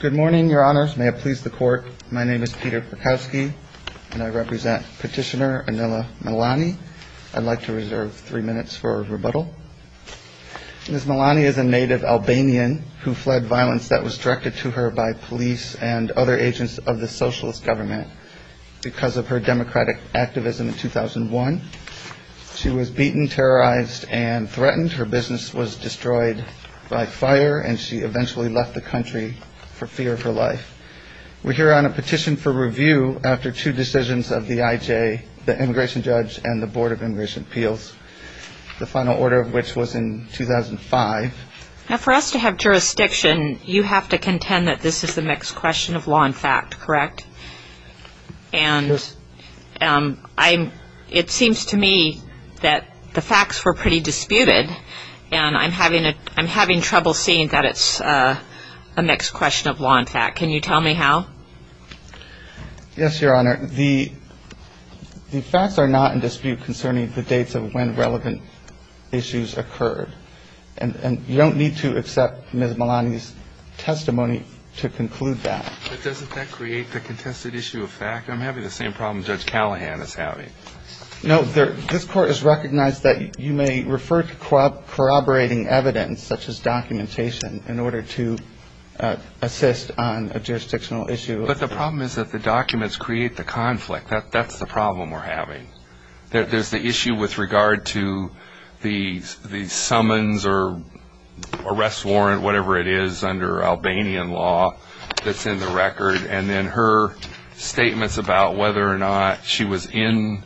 Good morning, your honors. May it please the court, my name is Peter Prakowski and I represent Petitioner Anila Malani. I'd like to reserve three minutes for rebuttal. Ms. Malani is a native Albanian who fled violence that was directed to her by police and other agents of the socialist government because of her democratic activism in 2001. She was beaten, terrorized, and threatened. Her business was destroyed by fire and she eventually left the country for fear of her life. We're here on a petition for review after two decisions of the IJ, the immigration judge, and the Board of Immigration Appeals, the final order of which was in 2005. Now for us to have jurisdiction, you have to contend that this is a mixed question of law and fact, correct? And it seems to me that the facts were pretty disputed and I'm having trouble seeing that it's a mixed question of law and fact. Can you tell me how? Yes, your honor. The facts are not in dispute concerning the dates of when relevant issues occurred. And you don't need to accept Ms. Malani's testimony to conclude that. But doesn't that create the contested issue of fact? I'm having the same problem Judge Callahan is having. No, this court has recognized that you may refer to corroborating evidence such as documentation in order to assist on a jurisdictional issue. But the problem is that the documents create the conflict. That's the problem we're having. There's the issue with regard to the summons or arrest warrant, whatever it is, under Albanian law that's in the record. And then her statements about whether or not she was in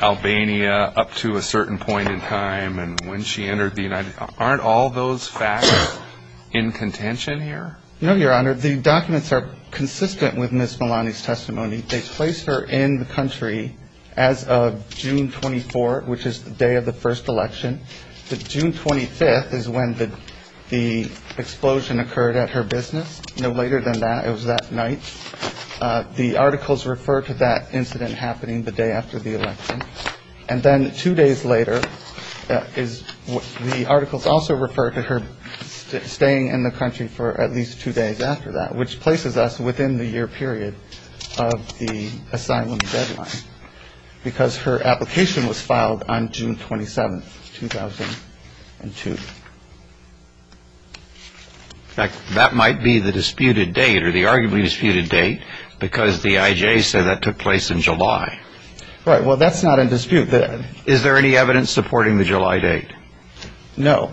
Albania up to a certain point in time and when she entered the United States. Aren't all those facts in contention here? No, your honor. The documents are consistent with Ms. Malani's testimony. They placed her in the country as of June 24, which is the day of the first election. But June 25th is when the explosion occurred at her business. No later than that. It was that night. The articles refer to that incident happening the day after the election. And then two days later is what the articles also refer to her staying in the country for at least two days after that, which places us within the year period of the asylum deadline because her application was filed on June 27th, 2002. In fact, that might be the disputed date or the arguably disputed date because the IJ said that took place in July. Right. Well, that's not in dispute. Is there any evidence supporting the July date? No.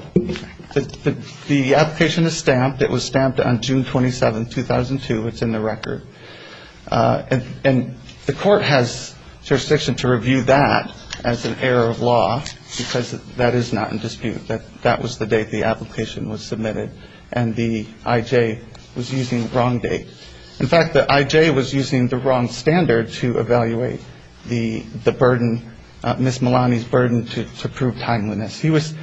The application is stamped. It was stamped on June 27th, 2002. It's in the record. And the court has jurisdiction to review that as an error of law because that is not in dispute, that that was the date the application was submitted and the IJ was using the wrong date. In fact, the IJ was using the wrong standard to evaluate the burden, Ms. Malani's burden to prove timeliness. He was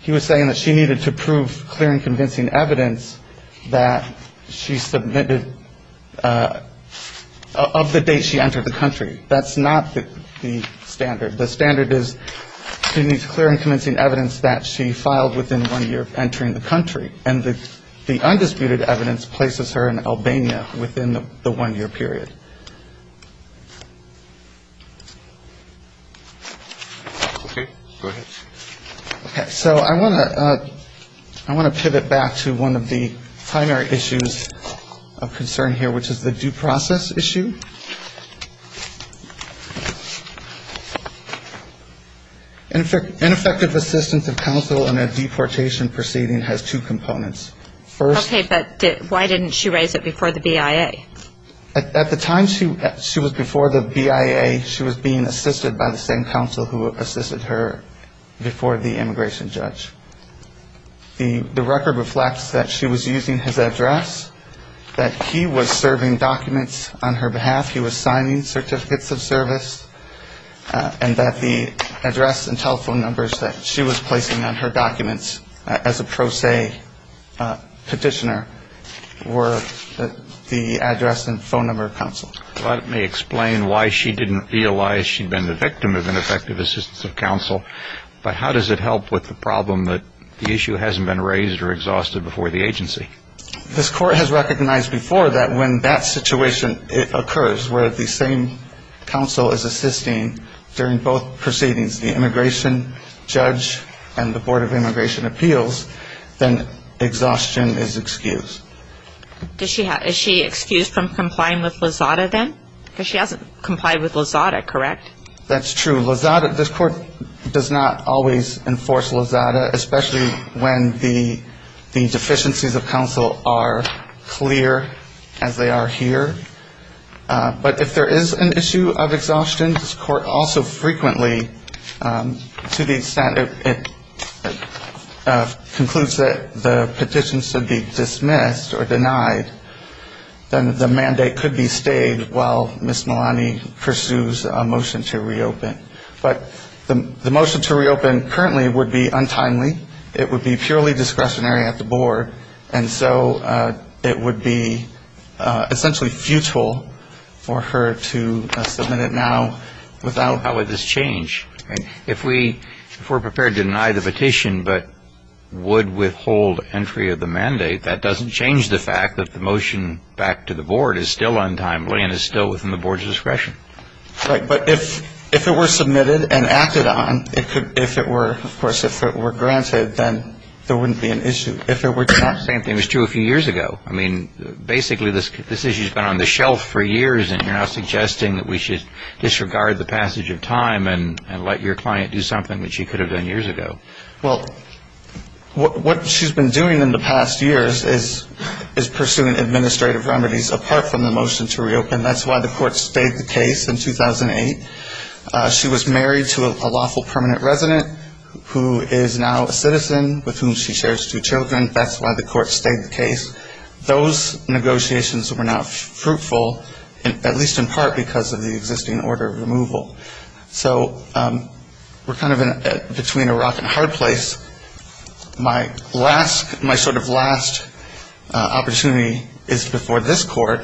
he was saying that she needed to prove clear and convincing evidence that she submitted of the date she entered the country. That's not the standard. The standard is she needs clear and convincing evidence that she filed within one year of entering the country. And the undisputed evidence places her in Albania within the one year period. OK, go ahead. So I want to I want to pivot back to one of the primary issues of concern here, which is the due process issue. In effect, ineffective assistance of counsel in a deportation proceeding has two components. First, OK, but why didn't she raise it before the BIA? At the time she was before the BIA, she was being assisted by the same counsel who assisted her before the immigration judge. The record reflects that she was using his address, that he was serving documents on her behalf. He was signing certificates of service and that the address and telephone numbers that she was placing on her documents as a pro se petitioner were the address and phone number of counsel. Let me explain why she didn't realize she'd been the victim of ineffective assistance of counsel. But how does it help with the problem that the issue hasn't been raised or exhausted before the agency? This court has recognized before that when that situation occurs, where the same counsel is assisting during both proceedings, the immigration judge and the Board of Immigration Appeals, then exhaustion is excused. Does she have is she excused from complying with Lizada then? Because she hasn't complied with Lizada, correct? That's true. Lizada, this court does not always enforce Lizada, especially when the deficiencies of counsel are clear as they are here. But if there is an issue of exhaustion, this court also frequently, to the extent it concludes that the petition should be dismissed or denied, then the mandate could be stayed while Ms. Malani pursues a motion to reopen. But the motion to reopen currently would be untimely. It would be purely discretionary at the board. And so it would be essentially futile for her to submit it now without how would this change? If we're prepared to deny the petition but would withhold entry of the mandate, that doesn't change the fact that the motion back to the board is still untimely and is still within the board's discretion. Right. But if it were submitted and acted on, if it were, of course, if it were granted, then there wouldn't be an issue. If it were denied. Same thing was true a few years ago. I mean, basically this issue has been on the shelf for years and you're now suggesting that we should disregard the passage of time and let your client do something that she could have done years ago. Well, what she's been doing in the past years is pursuing administrative remedies apart from the motion to reopen. And that's why the court stayed the case in 2008. She was married to a lawful permanent resident who is now a citizen with whom she shares two children. That's why the court stayed the case. Those negotiations were not fruitful, at least in part because of the existing order of removal. So we're kind of between a rock and a hard place. My sort of last opportunity is before this court.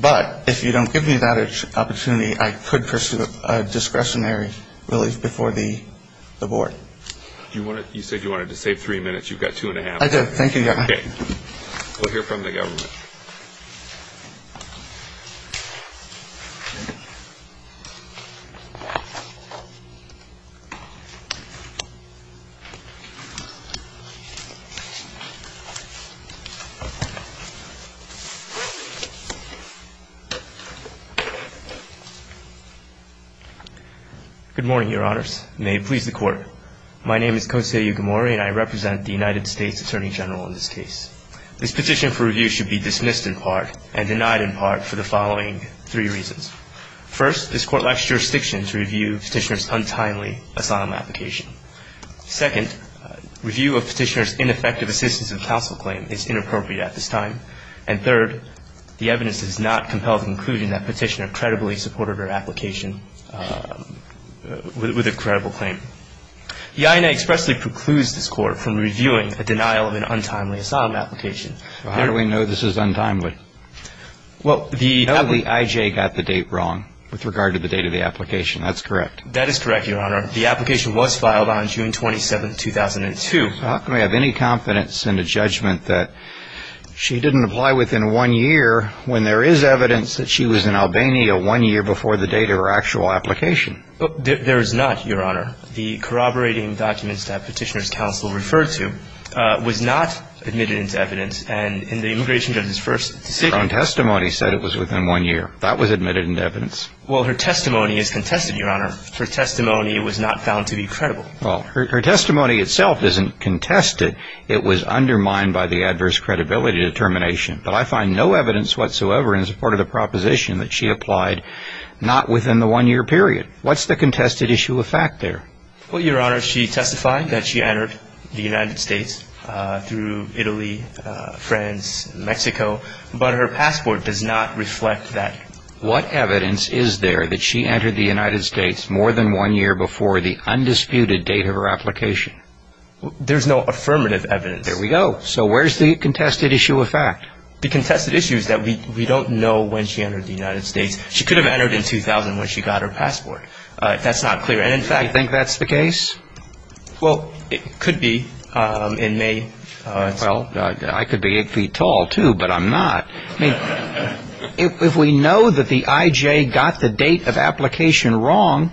But if you don't give me that opportunity, I could pursue a discretionary relief before the board. You said you wanted to save three minutes. You've got two and a half. I did. Thank you, Your Honor. Okay. We'll hear from the government. Good morning, Your Honors. May it please the Court. My name is Kosei Yukimori and I represent the United States Attorney General in this case. This petition for review should be dismissed in part and denied in part for the following three reasons. First, this court lacks jurisdiction to review Petitioner's untimely asylum application. Second, review of Petitioner's ineffective assistance of counsel claim is inappropriate at this time. And third, the evidence does not compel the conclusion that Petitioner credibly supported her application with a credible claim. The INA expressly precludes this court from reviewing a denial of an untimely asylum application. How do we know this is untimely? Well, the WIJ got the date wrong with regard to the date of the application. That's correct. That is correct, Your Honor. The application was filed on June 27, 2002. How can we have any confidence in a judgment that she didn't apply within one year when there is evidence that she was in Albania one year before the date of her actual application? There is not, Your Honor. The corroborating documents that Petitioner's counsel referred to was not admitted into evidence. And in the immigration judge's first decision… Her own testimony said it was within one year. That was admitted into evidence. Well, her testimony is contested, Your Honor. Her testimony was not found to be credible. Well, her testimony itself isn't contested. It was undermined by the adverse credibility determination. But I find no evidence whatsoever in support of the proposition that she applied not within the one-year period. What's the contested issue of fact there? Well, Your Honor, she testified that she entered the United States through Italy, France, Mexico. But her passport does not reflect that. What evidence is there that she entered the United States more than one year before the undisputed date of her application? There's no affirmative evidence. There we go. So where's the contested issue of fact? The contested issue is that we don't know when she entered the United States. She could have entered in 2000 when she got her passport. That's not clear. Do you think that's the case? Well, it could be in May. Well, I could be eight feet tall, too, but I'm not. I mean, if we know that the I.J. got the date of application wrong,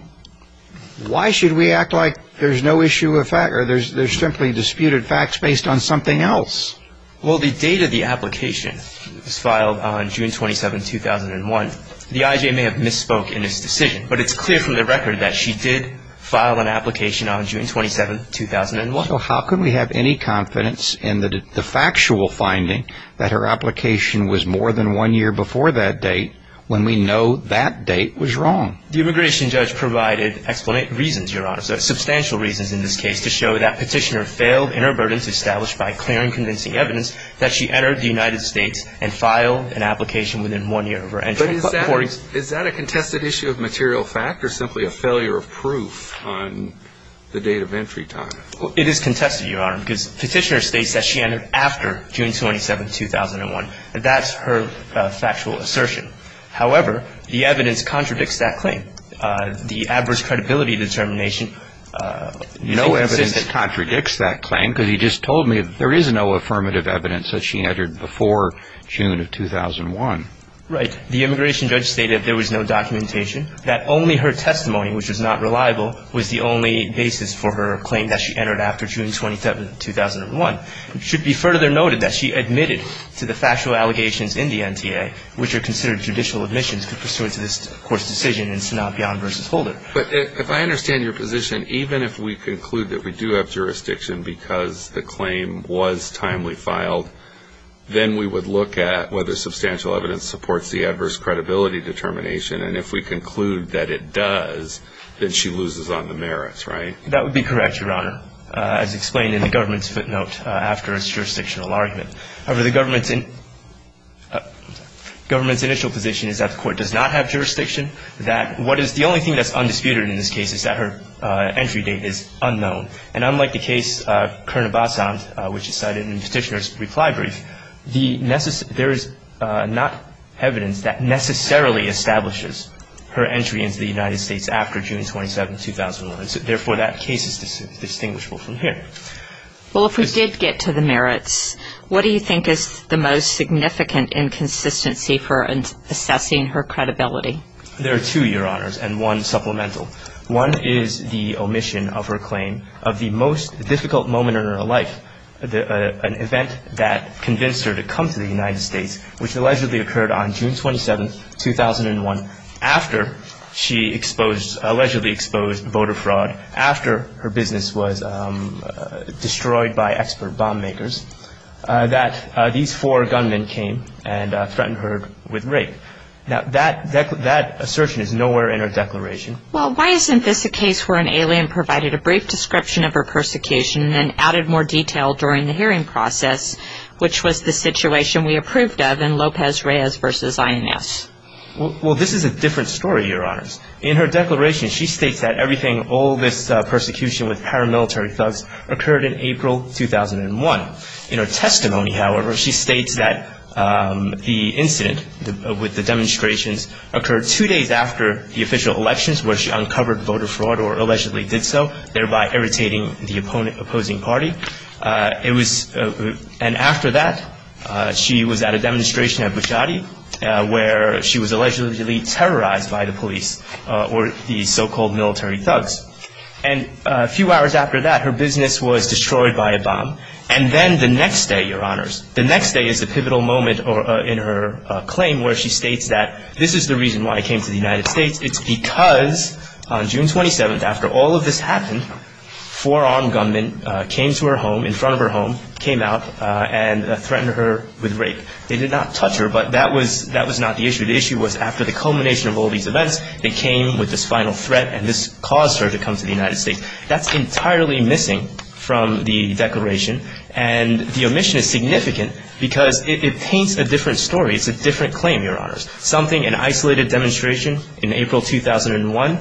why should we act like there's no issue of fact or there's simply disputed facts based on something else? Well, the date of the application was filed on June 27, 2001. The I.J. may have misspoke in this decision, but it's clear from the record that she did file an application on June 27, 2001. So how can we have any confidence in the factual finding that her application was more than one year before that date when we know that date was wrong? The immigration judge provided explanatory reasons, Your Honor, substantial reasons in this case to show that Petitioner failed in her burden to establish by clear and convincing evidence that she entered the United States and filed an application within one year of her entry. But is that a contested issue of material fact or simply a failure of proof on the date of entry time? It is contested, Your Honor, because Petitioner states that she entered after June 27, 2001. That's her factual assertion. However, the evidence contradicts that claim. The adverse credibility determination. No evidence contradicts that claim because you just told me there is no affirmative evidence that she entered before June of 2001. Right. The immigration judge stated there was no documentation, that only her testimony, which was not reliable, was the only basis for her claim that she entered after June 27, 2001. It should be further noted that she admitted to the factual allegations in the NTA, which are considered judicial admissions pursuant to this court's decision in Sanabian v. Holder. But if I understand your position, even if we conclude that we do have jurisdiction because the claim was timely filed, then we would look at whether substantial evidence supports the adverse credibility determination. And if we conclude that it does, then she loses on the merits, right? That would be correct, Your Honor, as explained in the government's footnote after its jurisdictional argument. However, the government's initial position is that the court does not have jurisdiction, that what is the only thing that's undisputed in this case is that her entry date is unknown. And unlike the case Kernibasan, which is cited in Petitioner's reply brief, there is not evidence that necessarily establishes her entry into the United States after June 27, 2001. Therefore, that case is distinguishable from here. Well, if we did get to the merits, what do you think is the most significant inconsistency for assessing her credibility? There are two, Your Honors, and one supplemental. One is the omission of her claim of the most difficult moment in her life, an event that convinced her to come to the United States, which allegedly occurred on June 27, 2001, after she allegedly exposed voter fraud, after her business was destroyed by expert bomb makers, that these four gunmen came and threatened her with rape. Now, that assertion is nowhere in her declaration. Well, why isn't this a case where an alien provided a brief description of her persecution and added more detail during the hearing process, which was the situation we approved of in Lopez Reyes v. INS? Well, this is a different story, Your Honors. In her declaration, she states that everything, all this persecution with paramilitary thugs occurred in April 2001. In her testimony, however, she states that the incident with the demonstrations occurred two days after the official elections, where she uncovered voter fraud or allegedly did so, thereby irritating the opposing party. And after that, she was at a demonstration at Bushati, where she was allegedly terrorized by the police, or the so-called military thugs. And a few hours after that, her business was destroyed by a bomb. And then the next day, Your Honors, the next day is the pivotal moment in her claim, where she states that this is the reason why I came to the United States. It's because on June 27th, after all of this happened, four armed gunmen came to her home, in front of her home, came out and threatened her with rape. They did not touch her, but that was not the issue. The issue was after the culmination of all these events, they came with this final threat, and this caused her to come to the United States. That's entirely missing from the declaration. And the omission is significant because it paints a different story. It's a different claim, Your Honors. Something, an isolated demonstration in April 2001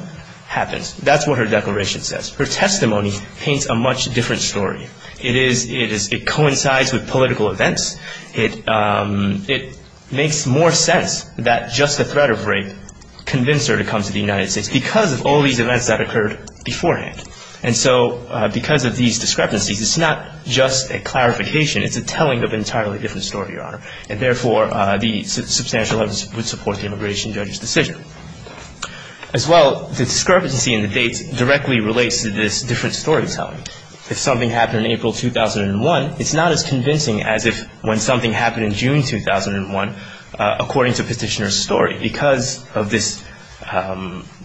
happens. That's what her declaration says. Her testimony paints a much different story. It is, it coincides with political events. It makes more sense that just the threat of rape convinced her to come to the United States, because of all these events that occurred beforehand. And so because of these discrepancies, it's not just a clarification. It's a telling of an entirely different story, Your Honor. And therefore, the substantial evidence would support the immigration judge's decision. As well, the discrepancy in the dates directly relates to this different storytelling. If something happened in April 2001, it's not as convincing as if when something happened in June 2001, according to Petitioner's story, because of this. I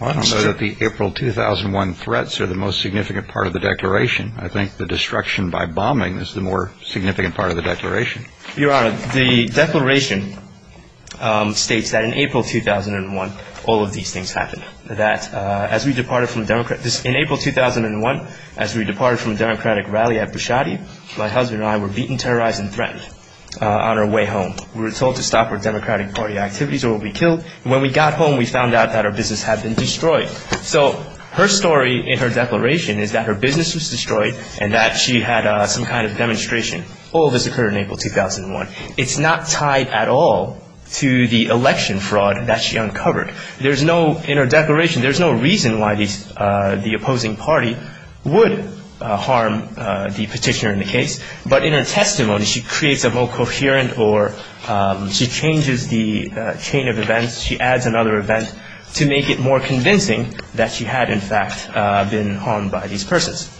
don't know that the April 2001 threats are the most significant part of the declaration. I think the destruction by bombing is the more significant part of the declaration. Your Honor, the declaration states that in April 2001, all of these things happened. That as we departed from the Democrat – in April 2001, as we departed from a Democratic rally at Bushati, my husband and I were beaten, terrorized, and threatened on our way home. We were told to stop our Democratic Party activities or we would be killed. And when we got home, we found out that our business had been destroyed. So her story in her declaration is that her business was destroyed and that she had some kind of demonstration. All of this occurred in April 2001. It's not tied at all to the election fraud that she uncovered. There's no – in her declaration, there's no reason why the opposing party would harm the Petitioner in the case. But in her testimony, she creates a more coherent or – she changes the chain of events. She adds another event to make it more convincing that she had, in fact, been harmed by these persons.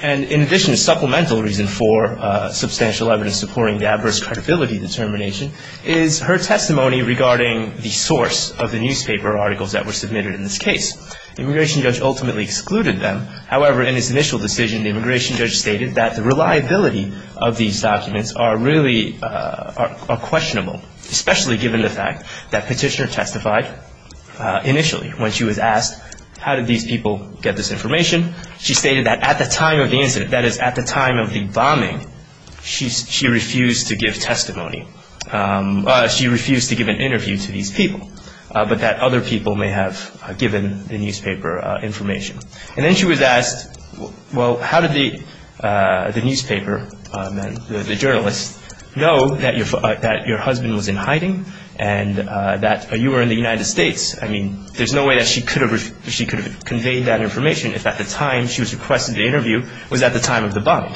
And in addition, a supplemental reason for substantial evidence supporting the adverse credibility determination is her testimony regarding the source of the newspaper articles that were submitted in this case. The immigration judge ultimately excluded them. However, in his initial decision, the immigration judge stated that the reliability of these documents are really – are questionable, especially given the fact that Petitioner testified initially when she was asked, how did these people get this information? She stated that at the time of the incident, that is, at the time of the bombing, she refused to give testimony. She refused to give an interview to these people, but that other people may have given the newspaper information. And then she was asked, well, how did the newspaper and the journalists know that your husband was in hiding and that you were in the United States? I mean, there's no way that she could have conveyed that information if at the time she was requested to interview was at the time of the bomb.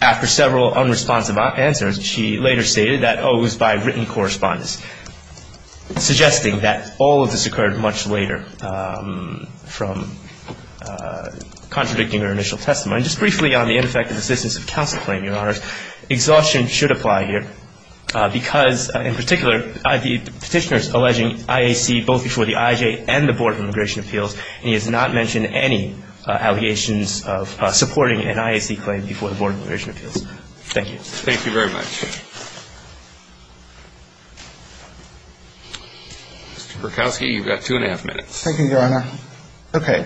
After several unresponsive answers, she later stated that, oh, it was by written correspondence, suggesting that all of this occurred much later from contradicting her initial testimony. Just briefly on the ineffective assistance of counsel claim, Your Honors, exhaustion should apply here because, in particular, Petitioner is alleging IAC both before the IJA and the Board of Immigration Appeals, and he has not mentioned any allegations of supporting an IAC claim before the Board of Immigration Appeals. Thank you. Thank you very much. Mr. Berkowski, you've got two and a half minutes. Thank you, Your Honor. Okay.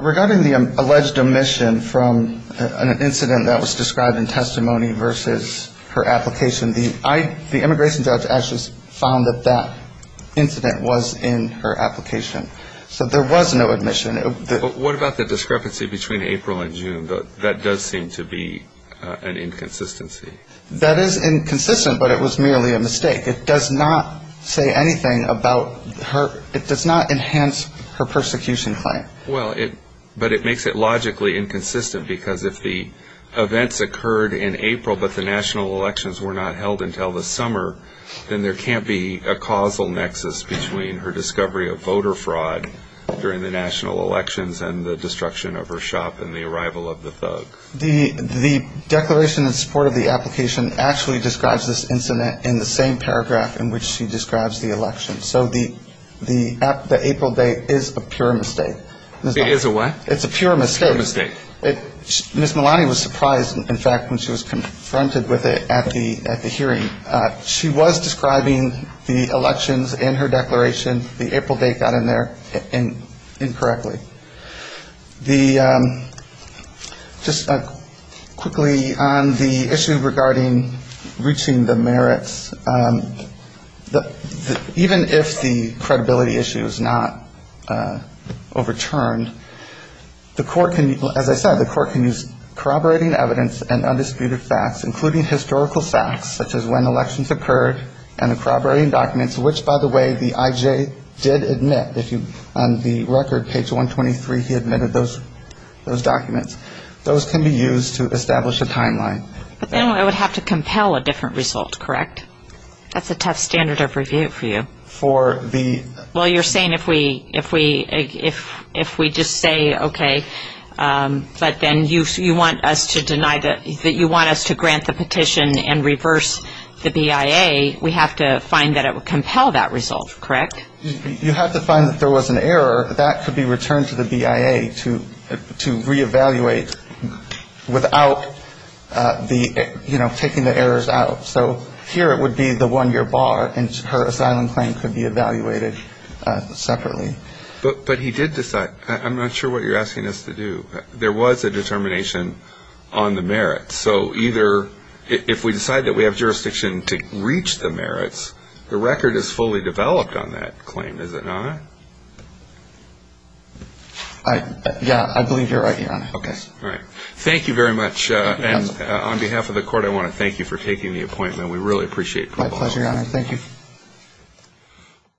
Regarding the alleged omission from an incident that was described in testimony versus her application, the immigration judge actually found that that incident was in her application. So there was no omission. But what about the discrepancy between April and June? That does seem to be an inconsistency. That is inconsistent, but it was merely a mistake. It does not say anything about her. It does not enhance her persecution claim. Well, but it makes it logically inconsistent because if the events occurred in April but the national elections were not held until the summer, then there can't be a causal nexus between her discovery of voter fraud during the national elections and the destruction of her shop and the arrival of the thug. The declaration in support of the application actually describes this incident in the same paragraph in which she describes the election. So the April date is a pure mistake. It is a what? It's a pure mistake. Pure mistake. Ms. Malani was surprised, in fact, when she was confronted with it at the hearing. She was describing the elections in her declaration. The April date got in there incorrectly. Just quickly, on the issue regarding reaching the merits, even if the credibility issue is not overturned, the court can, as I said, the court can use corroborating evidence and undisputed facts, including historical facts, such as when elections occurred and corroborating documents, which, by the way, the I.J. did admit. On the record, page 123, he admitted those documents. Those can be used to establish a timeline. But then it would have to compel a different result, correct? That's a tough standard of review for you. Well, you're saying if we just say, okay, but then you want us to grant the petition and reverse the BIA, we have to find that it would compel that result, correct? You have to find that there was an error. That could be returned to the BIA to reevaluate without taking the errors out. So here it would be the one-year bar, and her asylum claim could be evaluated separately. But he did decide. I'm not sure what you're asking us to do. There was a determination on the merits. The record is fully developed on that claim, is it not? Yeah, I believe you're right, Your Honor. Okay. All right. Thank you very much. And on behalf of the Court, I want to thank you for taking the appointment. We really appreciate it. My pleasure, Your Honor. Thank you.